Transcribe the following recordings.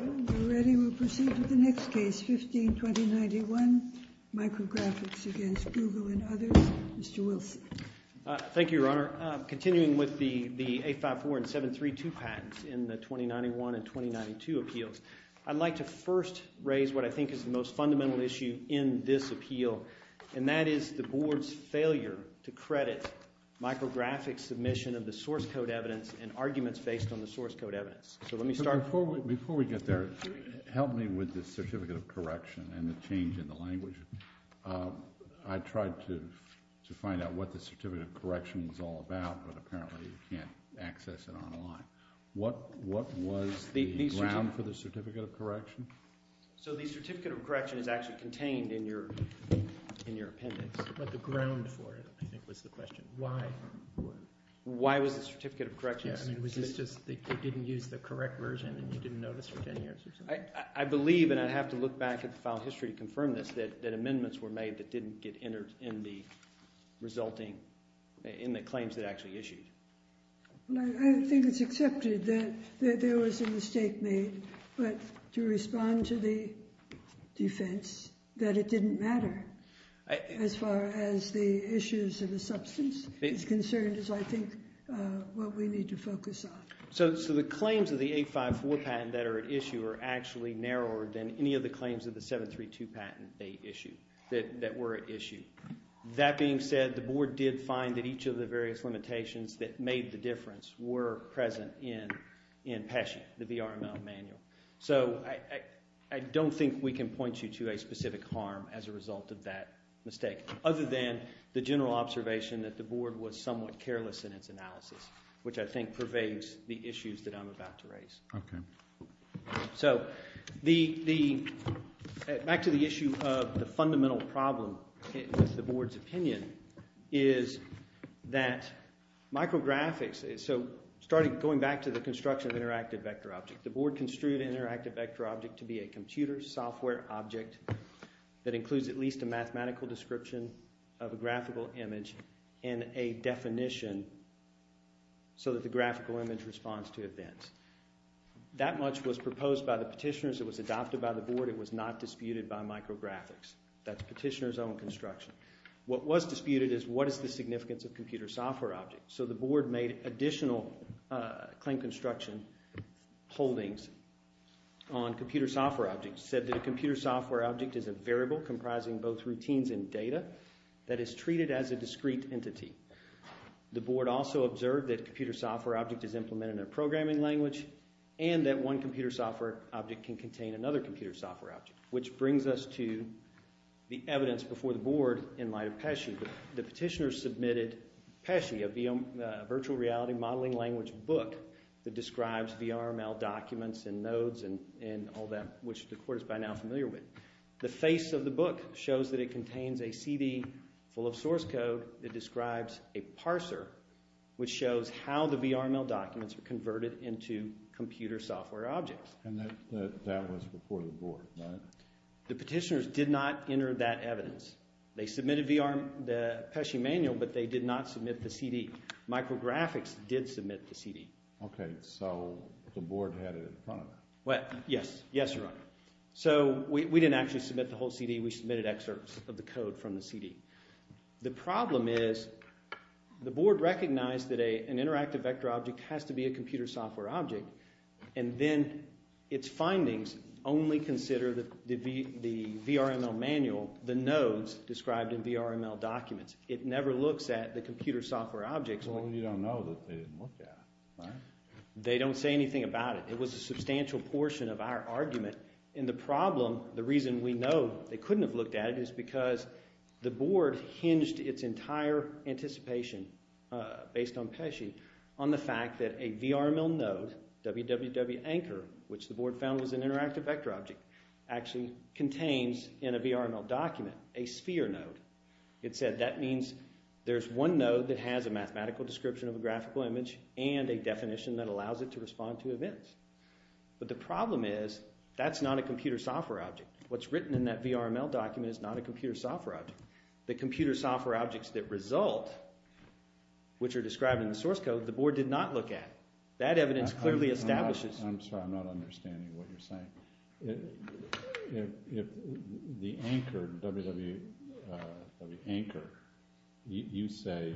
We'll proceed to the next case, 15-2091, Micrografx against Google and others. Mr. Wilson. Thank you, Your Honor. Continuing with the 854 and 732 patents in the 2091 and 2092 appeals, I'd like to first raise what I think is the most fundamental issue in this appeal, and that is the Board's failure to credit Micrografx's submission of the source code evidence and arguments based on the source code evidence. So let me start… Before we get there, help me with the certificate of correction and the change in the language. I tried to find out what the certificate of correction was all about, but apparently you can't access it online. What was the ground for the certificate of correction? So the certificate of correction is actually contained in your appendix. But the ground for it, I think, was the question. Why? Why was the certificate of correction… They didn't use the correct version and you didn't notice for 10 years or something? I believe, and I'd have to look back at the file history to confirm this, that amendments were made that didn't get entered in the resulting—in the claims that actually issued. I think it's accepted that there was a mistake made, but to respond to the defense that it didn't matter as far as the issues of the substance is concerned is, I think, what we need to focus on. So the claims of the 854 patent that are at issue are actually narrower than any of the claims of the 732 patent they issued, that were at issue. That being said, the board did find that each of the various limitations that made the difference were present in PESHA, the VRML manual. So I don't think we can point you to a specific harm as a result of that mistake, other than the general observation that the board was somewhat careless in its analysis, which I think pervades the issues that I'm about to raise. Okay. So the—back to the issue of the fundamental problem with the board's opinion is that micrographics— so going back to the construction of interactive vector object, the board construed interactive vector object to be a computer software object that includes at least a mathematical description of a graphical image and a definition so that the graphical image responds to events. That much was proposed by the petitioners. It was adopted by the board. It was not disputed by micrographics. That's petitioners' own construction. What was disputed is what is the significance of computer software objects. So the board made additional claim construction holdings on computer software objects, said that a computer software object is a variable comprising both routines and data that is treated as a discrete entity. The board also observed that a computer software object is implemented in a programming language and that one computer software object can contain another computer software object, which brings us to the evidence before the board in light of PESHA. The petitioners submitted PESHA, a virtual reality modeling language book that describes VRML documents and nodes and all that, which the court is by now familiar with. The face of the book shows that it contains a CD full of source code that describes a parser, which shows how the VRML documents are converted into computer software objects. And that was before the board, right? The petitioners did not enter that evidence. They submitted the PESHA manual, but they did not submit the CD. Micrographics did submit the CD. Okay, so the board had it in front of them. Yes, yes, Your Honor. So we didn't actually submit the whole CD. We submitted excerpts of the code from the CD. The problem is the board recognized that an interactive vector object has to be a computer software object, and then its findings only consider the VRML manual, the nodes described in VRML documents. It never looks at the computer software objects. Well, you don't know that they didn't look at it, right? They don't say anything about it. It was a substantial portion of our argument. And the problem, the reason we know they couldn't have looked at it, is because the board hinged its entire anticipation based on PESHA on the fact that a VRML node, www.anchor, which the board found was an interactive vector object, actually contains in a VRML document a sphere node. It said that means there's one node that has a mathematical description of a graphical image and a definition that allows it to respond to events. But the problem is that's not a computer software object. What's written in that VRML document is not a computer software object. The computer software objects that result, which are described in the source code, the board did not look at. That evidence clearly establishes... I'm sorry, I'm not understanding what you're saying. If the anchor, www.anchor, you say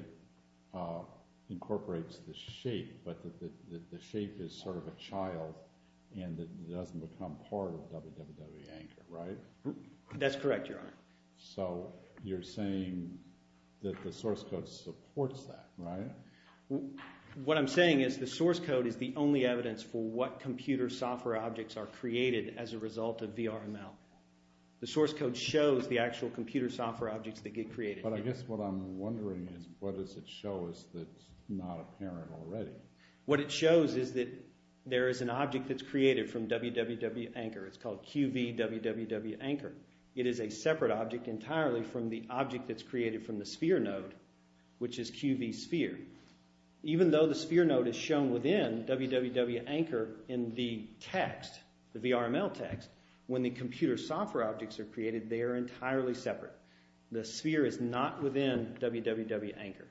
incorporates the shape, but the shape is sort of a child and it doesn't become part of www.anchor, right? That's correct, Your Honor. So you're saying that the source code supports that, right? What I'm saying is the source code is the only evidence for what computer software objects are created as a result of VRML. The source code shows the actual computer software objects that get created. But I guess what I'm wondering is what does it show us that's not apparent already? What it shows is that there is an object that's created from www.anchor. It's called qv www.anchor. It is a separate object entirely from the object that's created from the sphere node, which is qv sphere. Even though the sphere node is shown within www.anchor in the text, the VRML text, when the computer software objects are created, they are entirely separate. The sphere is not within www.anchor.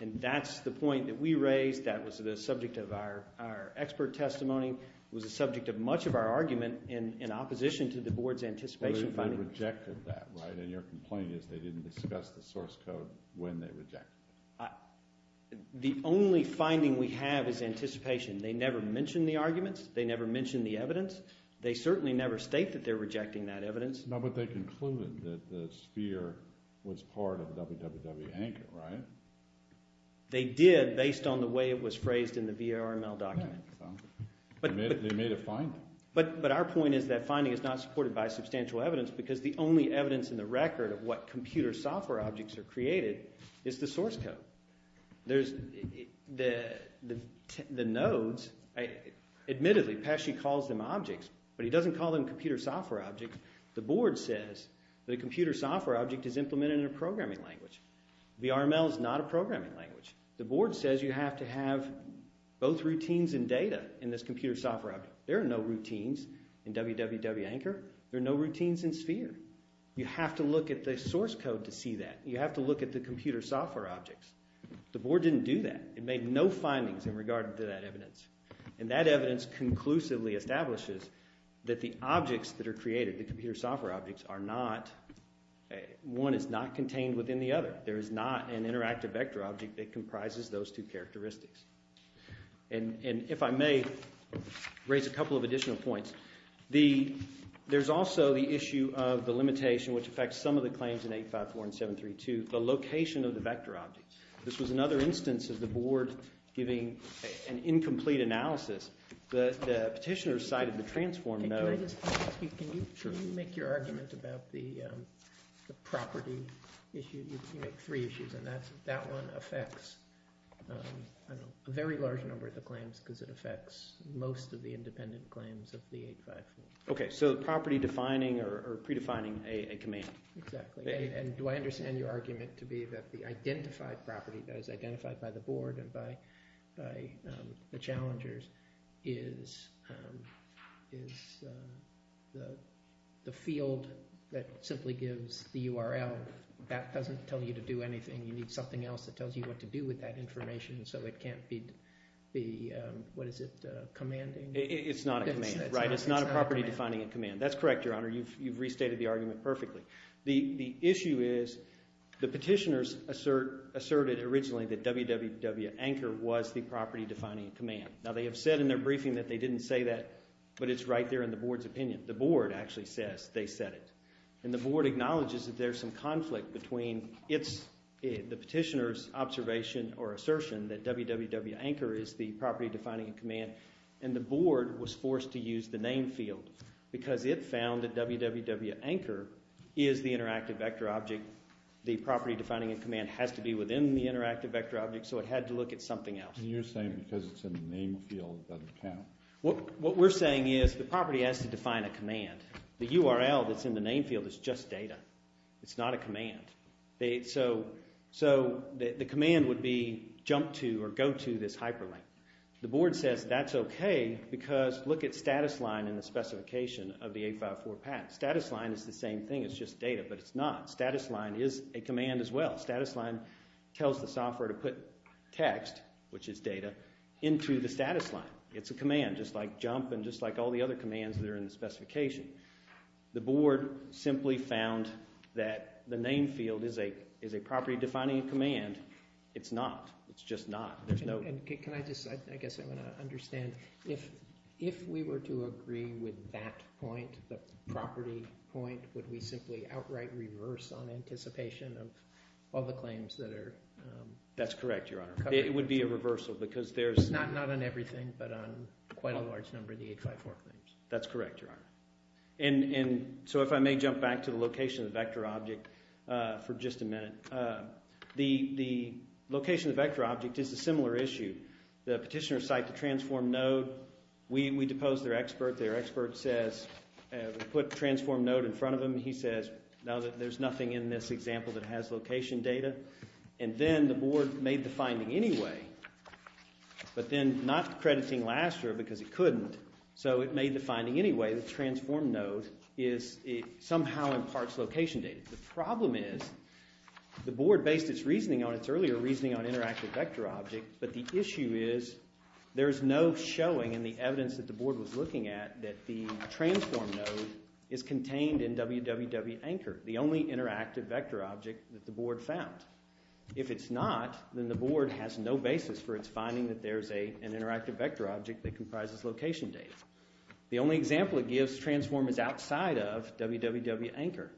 And that's the point that we raised. That was the subject of our expert testimony. It was the subject of much of our argument in opposition to the board's anticipation finding. But they rejected that, right? And your complaint is they didn't discuss the source code when they rejected it. The only finding we have is anticipation. They never mentioned the arguments. They never mentioned the evidence. They certainly never state that they're rejecting that evidence. No, but they concluded that the sphere was part of www.anchor, right? They did based on the way it was phrased in the VRML document. They made a finding. But our point is that finding is not supported by substantial evidence because the only evidence in the record of what computer software objects are created is the source code. There's the nodes. Admittedly, Pesci calls them objects, but he doesn't call them computer software objects. The board says that a computer software object is implemented in a programming language. VRML is not a programming language. The board says you have to have both routines and data in this computer software object. There are no routines in www.anchor. There are no routines in www.sphere. You have to look at the source code to see that. You have to look at the computer software objects. The board didn't do that. It made no findings in regard to that evidence, and that evidence conclusively establishes that the objects that are created, the computer software objects, are not. One is not contained within the other. There is not an interactive vector object that comprises those two characteristics. And if I may raise a couple of additional points, there's also the issue of the limitation, which affects some of the claims in 8.5.4 and 7.3.2, the location of the vector objects. This was another instance of the board giving an incomplete analysis. The petitioner cited the transform node. Can I just ask you, can you make your argument about the property issue? You make three issues, and that one affects a very large number of the claims because it affects most of the independent claims of the 8.5.4. Okay, so the property defining or predefining a command. Exactly, and do I understand your argument to be that the identified property that is identified by the board and by the challengers is the field that simply gives the URL. That doesn't tell you to do anything. You need something else that tells you what to do with that information, so it can't be, what is it, commanding? It's not a command, right? It's not a property defining a command. That's correct, Your Honor. You've restated the argument perfectly. The issue is the petitioners asserted originally that www.anchor was the property defining a command. Now they have said in their briefing that they didn't say that, but it's right there in the board's opinion. The board actually says they said it, and the board acknowledges that there's some conflict between the petitioner's observation or assertion that www.anchor is the property defining a command, and the board was forced to use the name field because it found that www.anchor is the interactive vector object. The property defining a command has to be within the interactive vector object, so it had to look at something else. You're saying because it's in the name field it doesn't count. What we're saying is the property has to define a command. The URL that's in the name field is just data. It's not a command. So the command would be jump to or go to this hyperlink. The board says that's okay because look at status line in the specification of the 854 patent. Status line is the same thing. It's just data, but it's not. Status line is a command as well. Status line tells the software to put text, which is data, into the status line. It's a command just like jump and just like all the other commands that are in the specification. The board simply found that the name field is a property defining a command. It's not. It's just not. Can I just, I guess I'm going to understand, if we were to agree with that point, the property point, would we simply outright reverse on anticipation of all the claims that are? That's correct, Your Honor. It would be a reversal because there's not on everything but on quite a large number of the 854 claims. That's correct, Your Honor. And so if I may jump back to the location of the vector object for just a minute. The location of the vector object is a similar issue. The petitioner cited the transform node. We deposed their expert. Their expert says put transform node in front of them. He says, no, there's nothing in this example that has location data. And then the board made the finding anyway, but then not crediting last year because it couldn't. So it made the finding anyway that transform node is somehow in parts location data. The problem is the board based its reasoning on its earlier reasoning on interactive vector object, but the issue is there's no showing in the evidence that the board was looking at that the transform node is contained in www.anchor, the only interactive vector object that the board found. If it's not, then the board has no basis for its finding that there's an interactive vector object that comprises location data. The only example it gives transform is outside of www.anchor.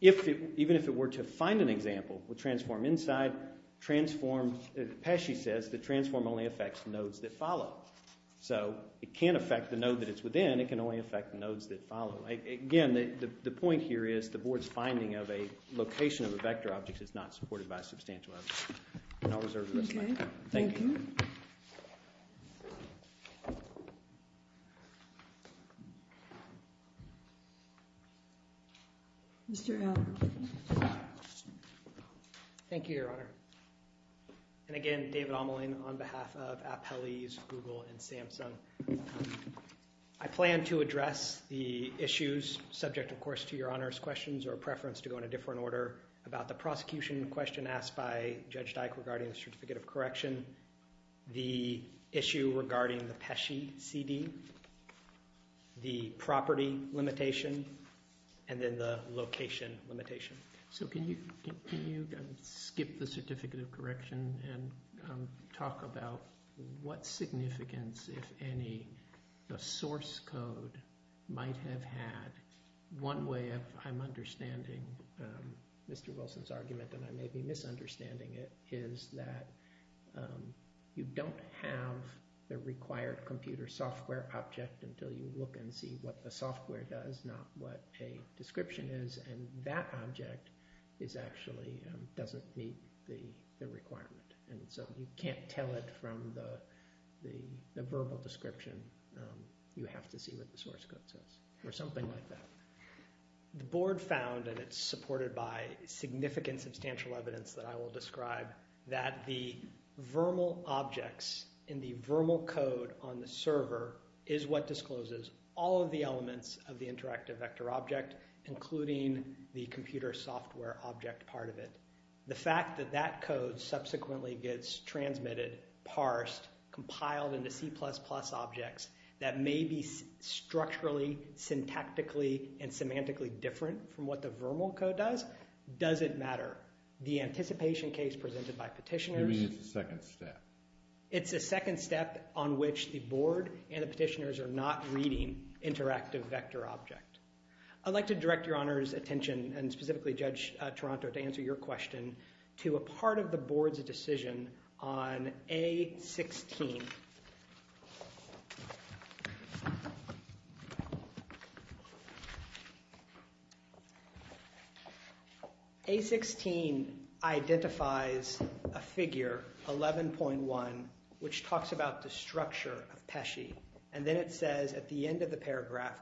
Even if it were to find an example with transform inside, transform, as Pesci says, the transform only affects nodes that follow. So it can't affect the node that it's within. It can only affect nodes that follow. Again, the point here is the board's finding of a location of a vector object is not supported by substantial evidence. And I'll reserve the rest of my time. Thank you. Mr. Allen. Thank you, Your Honor. And again, David Ameling on behalf of Appellees, Google, and Samsung. I plan to address the issues subject, of course, to Your Honor's questions or preference to go in a different order about the prosecution question asked by Judge Dyke regarding the Certificate of Correction, the issue regarding the Pesci CD, the property limitation, and then the location limitation. So can you skip the Certificate of Correction and talk about what significance, if any, the source code might have had? One way I'm understanding Mr. Wilson's argument, and I may be misunderstanding it, is that you don't have the required computer software object until you look and see what the software does, not what a description is. And that object actually doesn't meet the requirement. And so you can't tell it from the verbal description. You have to see what the source code says, or something like that. The Board found, and it's supported by significant substantial evidence that I will describe, that the vermal objects in the vermal code on the server is what discloses all of the elements of the interactive vector object, including the computer software object part of it. The fact that that code subsequently gets transmitted, parsed, compiled into C++ objects that may be structurally, syntactically, and semantically different from what the vermal code does, doesn't matter. The anticipation case presented by petitioners... You mean it's a second step? It's a second step on which the Board and the petitioners are not reading interactive vector object. I'd like to direct your Honor's attention, and specifically Judge Toronto, to answer your question to a part of the Board's decision on A16. A16 identifies a figure, 11.1, which talks about the structure of Pesce. And then it says at the end of the paragraph,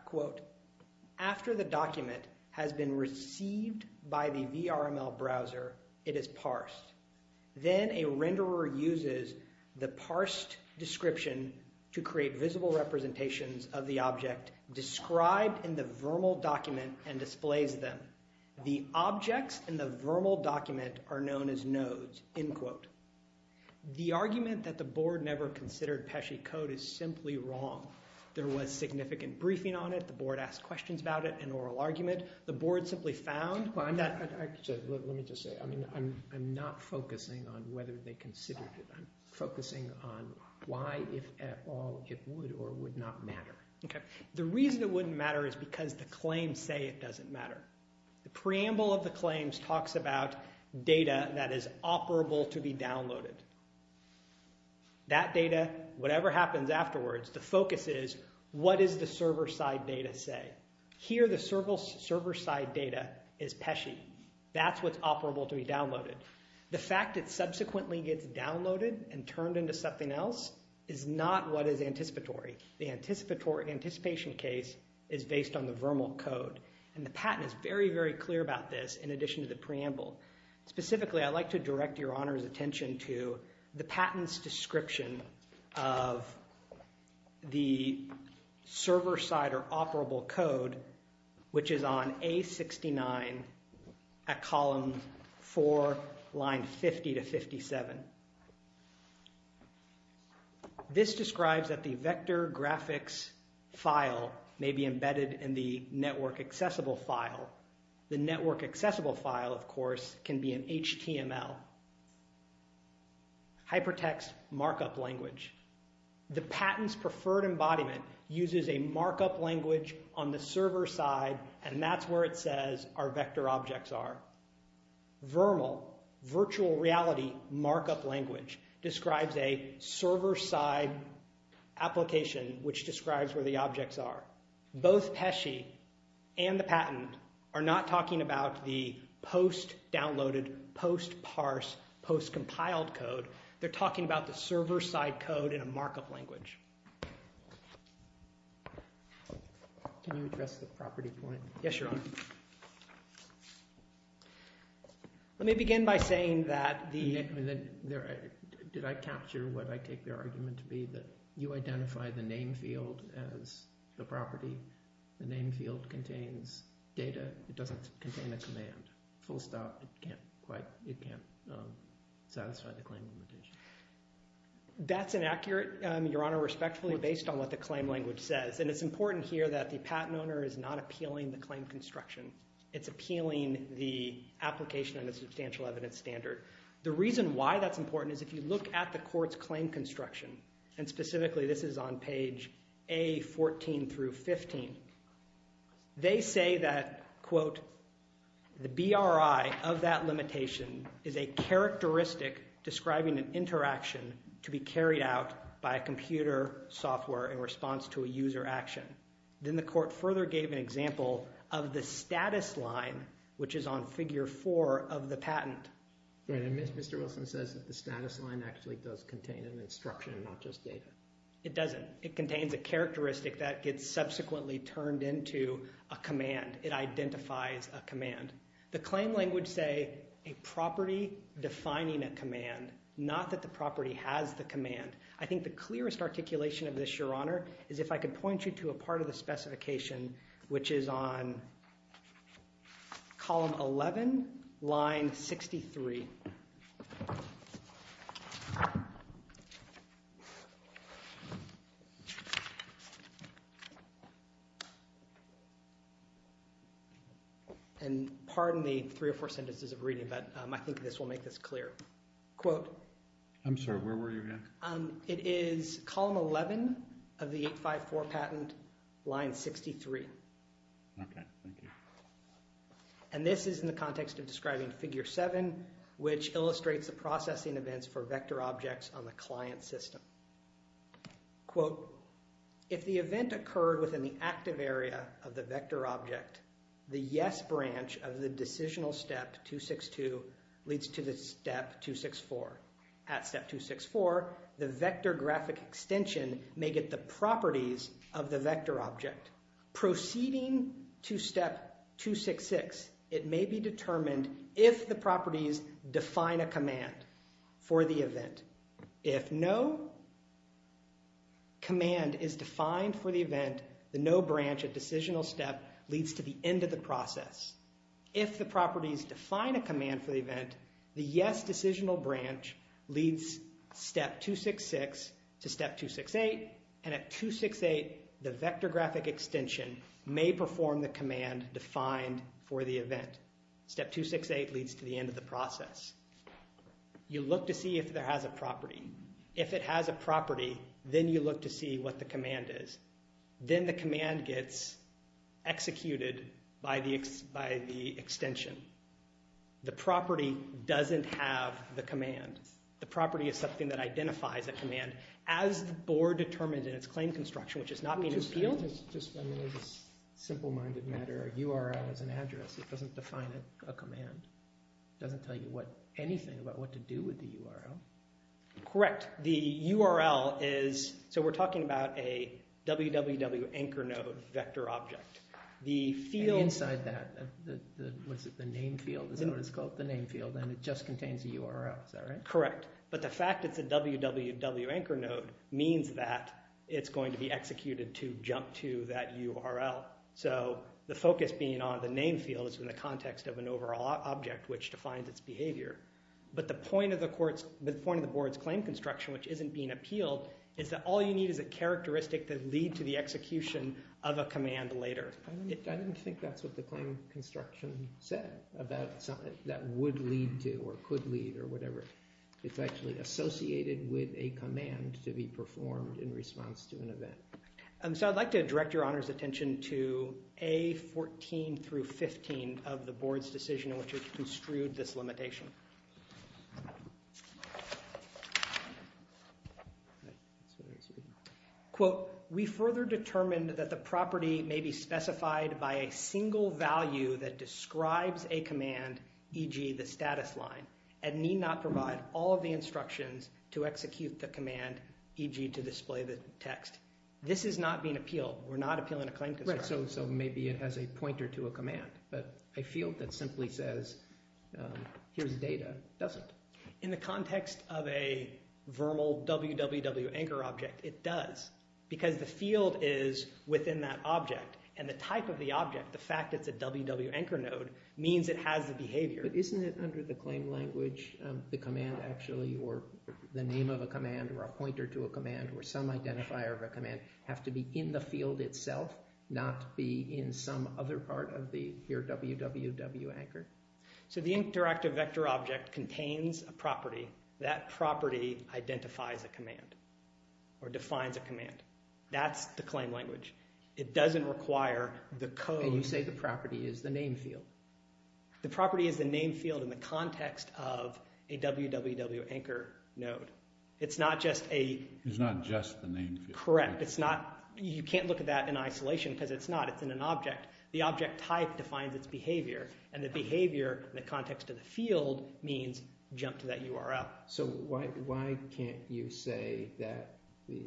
After the document has been received by the VRML browser, it is parsed. Then a renderer uses the parsed description to create visible representations of the object described in the vermal document and displays them. The objects in the vermal document are known as nodes. The argument that the Board never considered Pesce code is simply wrong. There was significant briefing on it. The Board asked questions about it, an oral argument. The Board simply found... Let me just say, I'm not focusing on whether they considered it. I'm focusing on why, if at all, it would or would not matter. The reason it wouldn't matter is because the claims say it doesn't matter. The preamble of the claims talks about data that is operable to be downloaded. That data, whatever happens afterwards, the focus is, what does the server-side data say? Here, the server-side data is Pesce. That's what's operable to be downloaded. The fact it subsequently gets downloaded and turned into something else is not what is anticipatory. The anticipation case is based on the VRML code. And the patent is very, very clear about this in addition to the preamble. Specifically, I'd like to direct Your Honor's attention to the patent's description of the server-side or operable code, which is on A69 at column 4, line 50 to 57. This describes that the vector graphics file may be embedded in the network accessible file. The network accessible file, of course, can be in HTML. Hypertext markup language. The patent's preferred embodiment uses a markup language on the server-side, and that's where it says our vector objects are. VRML, virtual reality markup language, describes a server-side application, which describes where the objects are. Both Pesce and the patent are not talking about the post-downloaded, post-parse, post-compiled code. They're talking about the server-side code in a markup language. Can you address the property point? Yes, Your Honor. Let me begin by saying that the... Did I capture what I take their argument to be? That you identify the name field as the property. The name field contains data. It doesn't contain a command. Full stop. It can't quite... It can't satisfy the claim limitation. That's inaccurate, Your Honor, respectfully, based on what the claim language says. And it's important here that the patent owner is not appealing the claim construction. It's appealing the application and the substantial evidence standard. The reason why that's important is if you look at the court's claim construction, and specifically this is on page A14 through 15, they say that, quote, the BRI of that limitation is a characteristic describing an interaction to be carried out by a computer software in response to a user action. Then the court further gave an example of the status line, which is on figure four of the patent. Mr. Wilson says that the status line actually does contain an instruction, not just data. It doesn't. It contains a characteristic that gets subsequently turned into a command. It identifies a command. The claim language say a property defining a command, not that the property has the command. I think the clearest articulation of this, Your Honor, is if I could point you to a part of the specification, which is on column 11, line 63. And pardon the three or four sentences of reading, but I think this will make this clear. Quote. I'm sorry. Where were you again? It is column 11 of the 854 patent, line 63. Okay. Thank you. And this is in the context of describing figure seven, which illustrates the processing events for vector objects on the client system. Quote. If the event occurred within the active area of the vector object, the yes branch of the decisional step 262 leads to the step 264. At step 264, the vector graphic extension may get the properties of the vector object. Proceeding to step 266, it may be determined if the properties define a command for the event. If no command is defined for the event, the no branch of decisional step leads to the end of the process. If the properties define a command for the event, the yes decisional branch leads step 266 to step 268, and at 268, the vector graphic extension may perform the command defined for the event. Step 268 leads to the end of the process. You look to see if there has a property. If it has a property, then you look to see what the command is. Then the command gets executed by the extension. The property doesn't have the command. The property is something that identifies a command. As the board determines in its claim construction, which is not being appealed. Just as a simple-minded matter, a URL is an address. It doesn't define a command. It doesn't tell you anything about what to do with the URL. Correct. The URL is, so we're talking about a www.anchor-node vector object. Inside that, was it the name field? Is that what it's called? The name field, and it just contains a URL. Is that right? Correct. But the fact it's a www.anchor-node means that it's going to be executed to jump to that URL. So the focus being on the name field is in the context of an overall object, which defines its behavior. But the point of the board's claim construction, which isn't being appealed, is that all you need is a characteristic to lead to the execution of a command later. I didn't think that's what the claim construction said about something that would lead to, or could lead, or whatever. It's actually associated with a command to be performed in response to an event. So I'd like to direct Your Honor's attention to A14 through 15 of the board's decision in which it construed this limitation. Quote, We further determined that the property may be specified by a single value that describes a command, e.g., the status line, and need not provide all of the instructions to execute the command, e.g., to display the text. This is not being appealed. We're not appealing a claim construction. but a field that simply says, here's the description of the command. In the context of a verbal www anchor object, it does. Because the field is within that object, and the type of the object, the fact it's a www anchor node, means it has the behavior. But isn't it under the claim language, the command actually, or the name of a command, or a pointer to a command, or some identifier of a command, have to be in the field itself, not be in some other part of the, here, www anchor? So the interactive vector object contains a property. That property identifies a command, or defines a command. That's the claim language. It doesn't require the code. And you say the property is the name field. The property is the name field in the context of a www anchor node. It's not just a... It's not just the name field. Correct. You can't look at that in isolation, because it's not. It's in an object. The object type defines its behavior. And the behavior, in the context of the field, means jump to that URL. So why can't you say that the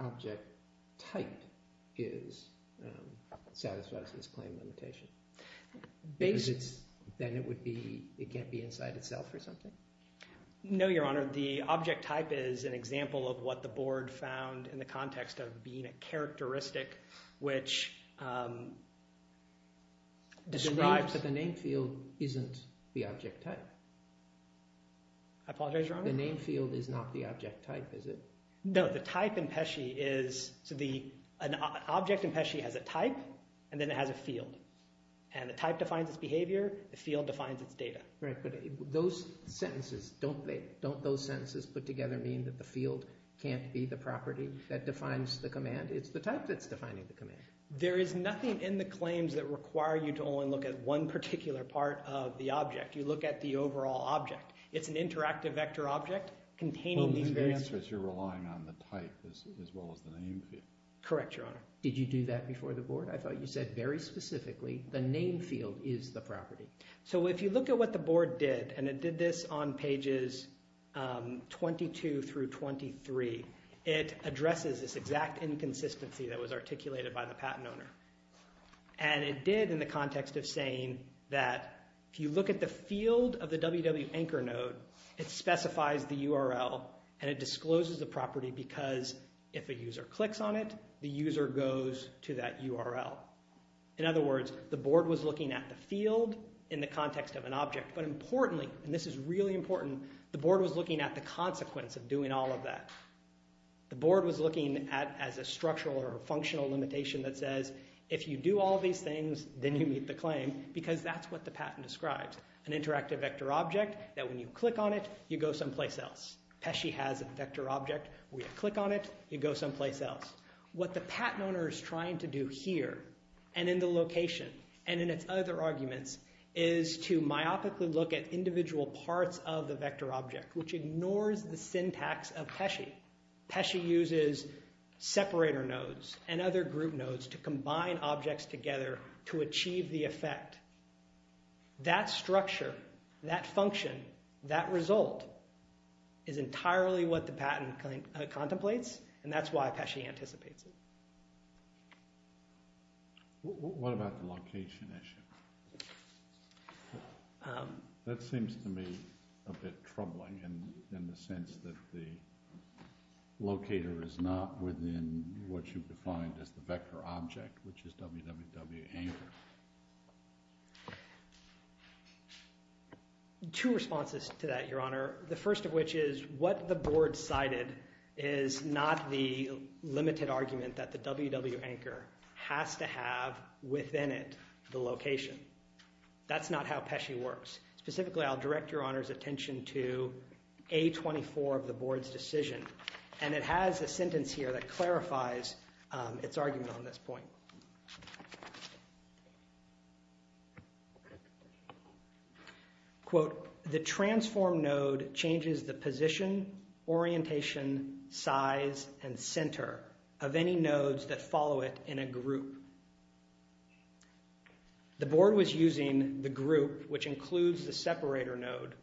object type satisfies this claim limitation? Because then it can't be inside itself, or something? No, Your Honor. The object type is an example of what the board found in the context of being a characteristic, which describes... But the name field isn't the object type. I apologize, Your Honor? The name field is not the object type, is it? No. The type in Pesce is... An object in Pesce has a type, and then it has a field. And the type defines its behavior. The field defines its data. Right, but those sentences... Don't those sentences put together mean that the field can't be the property that defines the command? It's the type that's defining the command. There is nothing in the claims that require you to only look at one particular part of the object. You look at the overall object. It's an interactive vector object containing these various... Well, then the answer is you're relying on the type as well as the name field. Correct, Your Honor. Did you do that before the board? I thought you said very specifically the name field is the property. So if you look at what the board did, and it did this on pages 22 through 23, it addresses this exact inconsistency that was articulated by the patent owner. And it did in the context of saying that if you look at the field of the www.anchor node, it specifies the URL, and it discloses the property because if a user clicks on it, the user goes to that URL. In other words, the board was looking at the field in the context of an object, but importantly, and this is really important, the board was looking at the consequence of doing all of that. The board was looking at as a structural or functional limitation that says if you do all these things, then you meet the claim because that's what the patent describes, an interactive vector object that when you click on it, you go someplace else. Pesci has a vector object. When you click on it, you go someplace else. What the patent owner is trying to do here and in the location and in its other arguments is to myopically look at individual parts of the vector object which ignores the syntax of Pesci. Pesci uses separator nodes and other group nodes to combine objects together to achieve the effect. That structure, that function, that result is entirely what the patent contemplates, and that's why Pesci anticipates it. What about the location issue? That seems to me a bit troubling in the sense that the locator is not within what you've defined as the vector object, which is www.anchor. Two responses to that, Your Honor. The first of which is what the board cited is not the limited argument that the www.anchor has to have within it the location. That's not how Pesci works. Specifically, I'll direct Your Honor's attention to A24 of the board's decision, and it has a sentence here that clarifies its argument on this point. Quote, The transform node changes the position, orientation, size, and center of any nodes that follow it in a group. The board was using the group, which includes the separator node,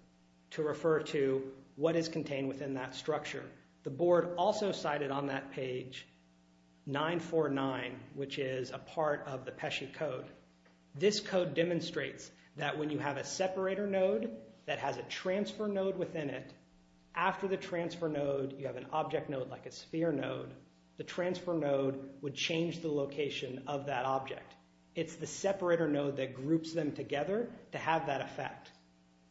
to refer to what is contained within that structure. The board also cited on that page 949, which is a part of the Pesci code. This code demonstrates that when you have a separator node that has a transfer node within it, after the transfer node, you have an object node like a sphere node, the transfer node would change the location of that object. It's the separator node that groups them together to have that effect.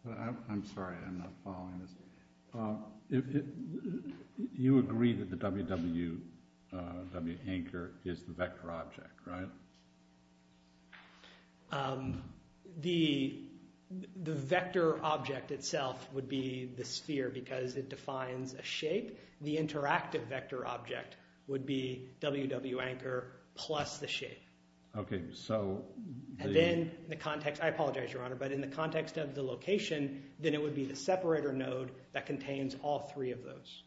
I'm sorry, I'm not following this. You agree that the www.anchor is the vector object, right? The vector object itself would be the sphere because it defines a shape. The interactive vector object would be www.anchor plus the shape. I apologize, Your Honor, but in the context of the location, then it would be the separator node that contains all three of those.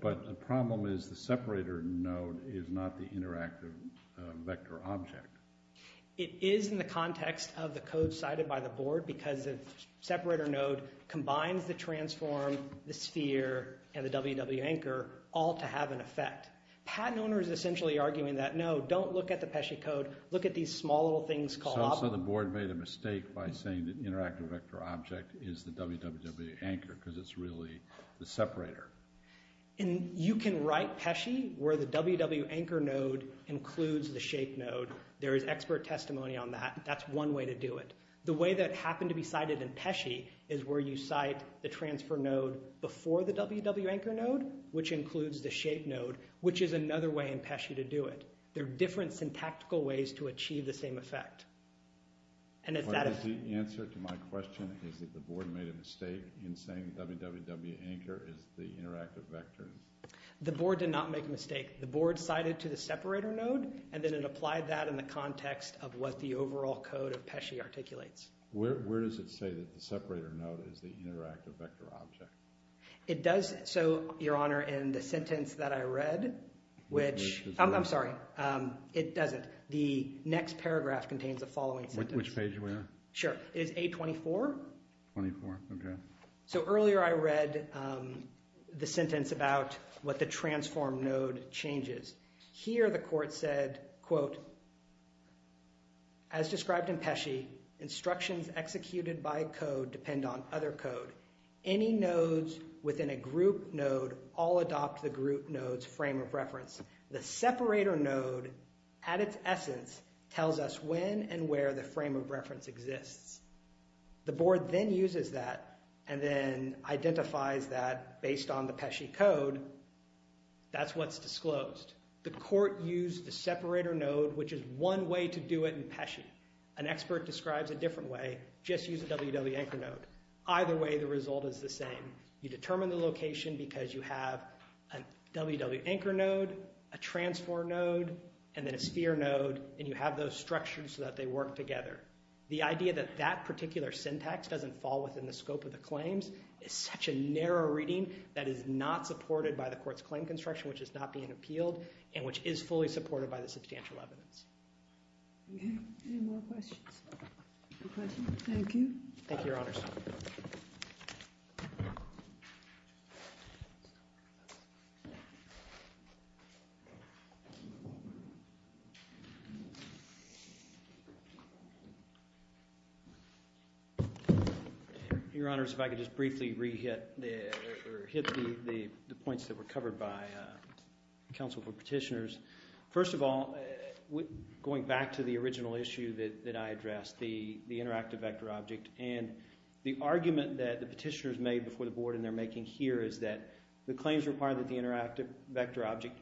But the problem is the separator node is not the interactive vector object. It is in the context of the code cited by the board because the separator node combines the transform, the sphere, and the www.anchor all to have an effect. Patent owner is essentially arguing that, no, don't look at the Pesci code, look at these small little things called... So the board made a mistake by saying that interactive vector object is the www.anchor because it's really the separator. You can write Pesci where the www.anchor node includes the shape node. There is expert testimony on that. That's one way to do it. The way that happened to be cited in Pesci is where you cite the transfer node before the www.anchor node, which includes the shape node, which is another way in Pesci to do it. There are different syntactical ways to achieve the same effect. And if that is... The answer to my question is that the board made a mistake in saying www.anchor is the interactive vector. The board did not make a mistake. The board cited to the separator node and then it applied that in the context of what the overall code of Pesci articulates. Where does it say that the separator node is the interactive vector object? It does... So, Your Honor, in the sentence that I read, which... I'm sorry. It doesn't. The next paragraph contains the following sentence. Which page are we on? Sure. It is A24. 24, okay. So earlier I read the sentence about what the transform node changes. Here the court said, As described in Pesci, instructions executed by code depend on other code. Any nodes within a group node all adopt the group node's frame of reference. The separator node, at its essence, tells us when and where the frame of reference exists. The board then uses that and then identifies that based on the Pesci code. That's what's disclosed. The court used the separator node, which is one way to do it in Pesci. An expert describes it a different way. Just use a wwanchor node. Either way, the result is the same. You determine the location because you have a wwanchor node, a transform node, and then a sphere node. And you have those structures so that they work together. The idea that that particular syntax doesn't fall within the scope of the claims is such a narrow reading that is not supported by the court's claim construction, which is not being appealed, and which is fully supported by the substantial evidence. Any more questions? Thank you. Your Honor, if I could just briefly re-hit the points that were covered by counsel for petitioners. First of all, going back to the original issue that I addressed, the interactive vector object, and the argument that the petitioners made before the board and they're making here is that the claims require that the interactive vector object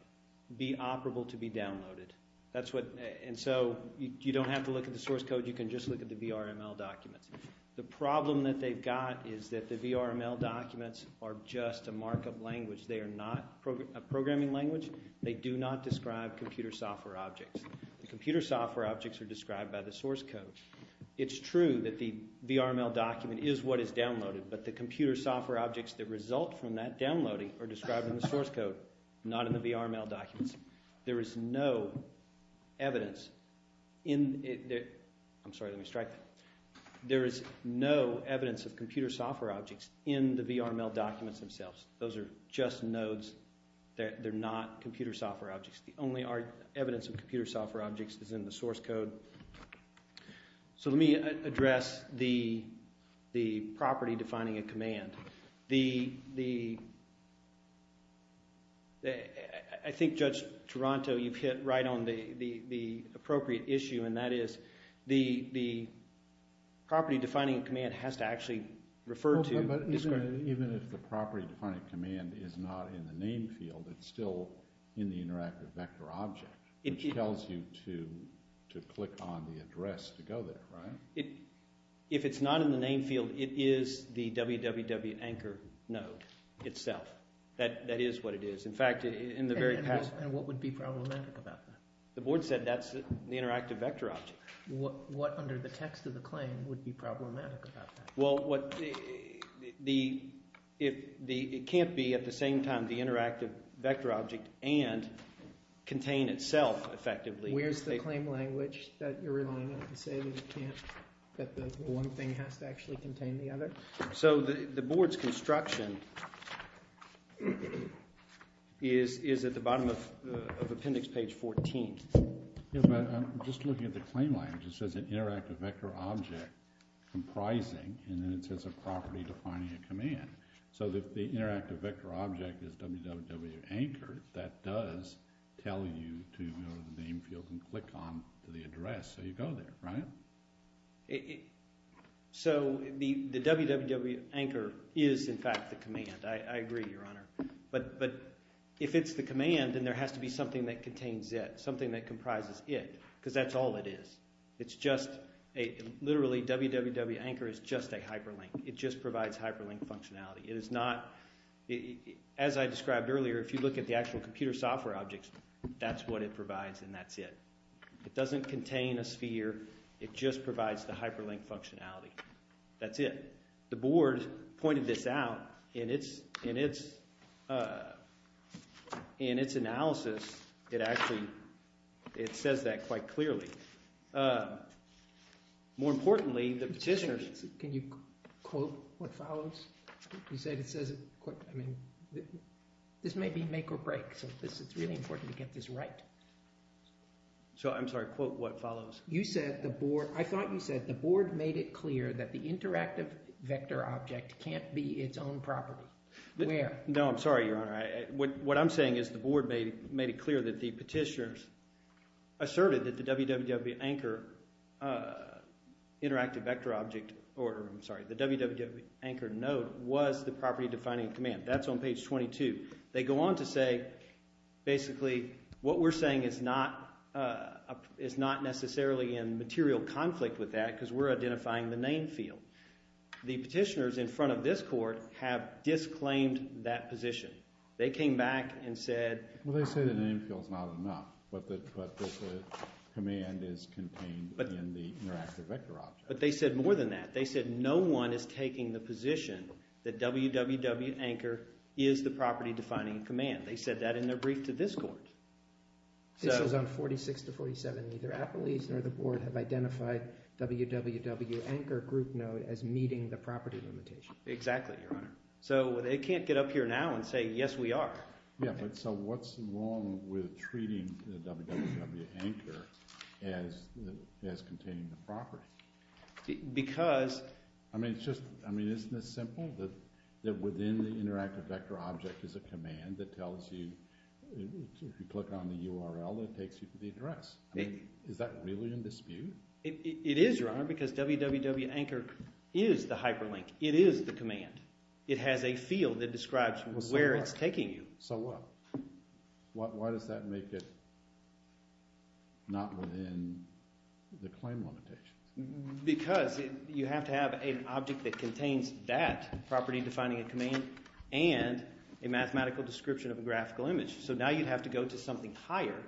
be operable to be downloaded. That's what, and so you don't have to look at the source code. You can just look at the VRML documents. The problem that they've got is that the VRML documents are just a markup language. They are not a programming language. They do not describe computer software objects. The computer software objects are described by the source code. It's true that the VRML document is what is downloaded, but the computer software objects that result from that downloading are described in the source code, not in the VRML documents. There is no evidence in... I'm sorry, let me strike that. There is no evidence of computer software objects in the VRML documents themselves. Those are just nodes. They're not computer software objects. The only evidence of computer software objects is in the source code. So let me address the property defining a command. The... I think, Judge Toronto, you've hit right on the appropriate issue, and that is the property defining a command has to actually refer to... Even if the property defining a command is not in the name field, it's still in the interactive vector object, which tells you to click on the address to go there, right? If it's not in the name field, it is the www anchor node itself. That is what it is. And what would be problematic about that? The board said that's the interactive vector object. What, under the text of the claim, would be problematic about that? It can't be, at the same time, the interactive vector object and contain itself effectively. Where's the claim language that you're relying on to say that one thing has to actually contain the other? The board's construction is at the bottom of appendix page 14. I'm just looking at the claim language. It says an interactive vector object comprising, and then it says a property defining a command. So if the interactive vector object is www anchor, that does tell you to go to the name field and click on the address so you go there, right? So the www anchor is, in fact, the command. I agree, Your Honor. But if it's the command, then there has to be something that contains it, something that comprises it. Because that's all it is. It's just, literally, www anchor is just a hyperlink. It just provides hyperlink functionality. It is not, as I described earlier, if you look at the actual computer software objects, that's what it provides and that's it. It doesn't contain a sphere. It just provides the hyperlink functionality. That's it. The board pointed this out in its analysis. It says that quite clearly. More importantly, the petitioner Can you quote what follows? This may be make or break. It's really important to get this right. I'm sorry, quote what follows. I thought you said the board made it clear that the interactive vector object can't be its own property. Where? No, I'm sorry, Your Honor. What I'm saying is the board made it clear that the petitioners asserted that the www anchor interactive vector object or, I'm sorry, the www anchor node was the property defining command. That's on page 22. They go on to say, basically, what we're saying is not necessarily in material conflict with that because we're identifying the name field. The petitioners in front of this court have disclaimed that position. They came back and said Well, they say the name field's not enough but the command is contained in the interactive vector object. But they said more than that. They said no one is taking the position that www anchor is the property defining command. They said that in their brief to this court. It shows on 46 to 47, neither Appalachian or the www anchor group node as meeting the property limitation. Exactly, Your Honor. So they can't get up here now and say yes we are. So what's wrong with treating the www anchor as containing the property? Because I mean, isn't it simple that within the interactive vector object is a command that tells you if you click on the URL, it takes you to the address. Is that really in because www anchor is the hyperlink. It is the command. It has a field that describes where it's taking you. So what? Why does that make it not within the claim limitation? Because you have to have an object that contains that property defining a command and a mathematical description of a graphical image. So now you have to go to something higher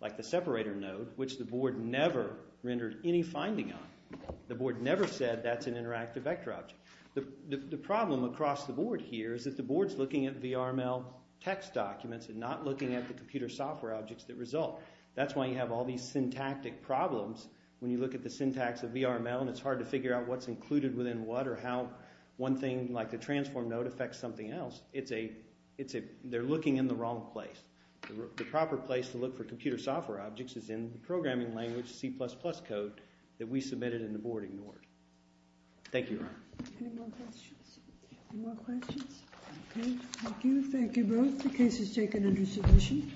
like the separator node, which the board never rendered any finding on. The board never said that's an interactive vector object. The problem across the board here is that the board is looking at VRML text documents and not looking at the computer software objects that result. That's why you have all these syntactic problems when you look at the syntax of VRML and it's hard to figure out what's included within what or how one thing like the transform node affects something else. It's a they're looking in the wrong place. The proper place to look for computer software objects is in the programming language C++ code that we submitted and the board ignored. Thank you, Ron. Any more questions? Thank you. Thank you both. The case is taken under submission.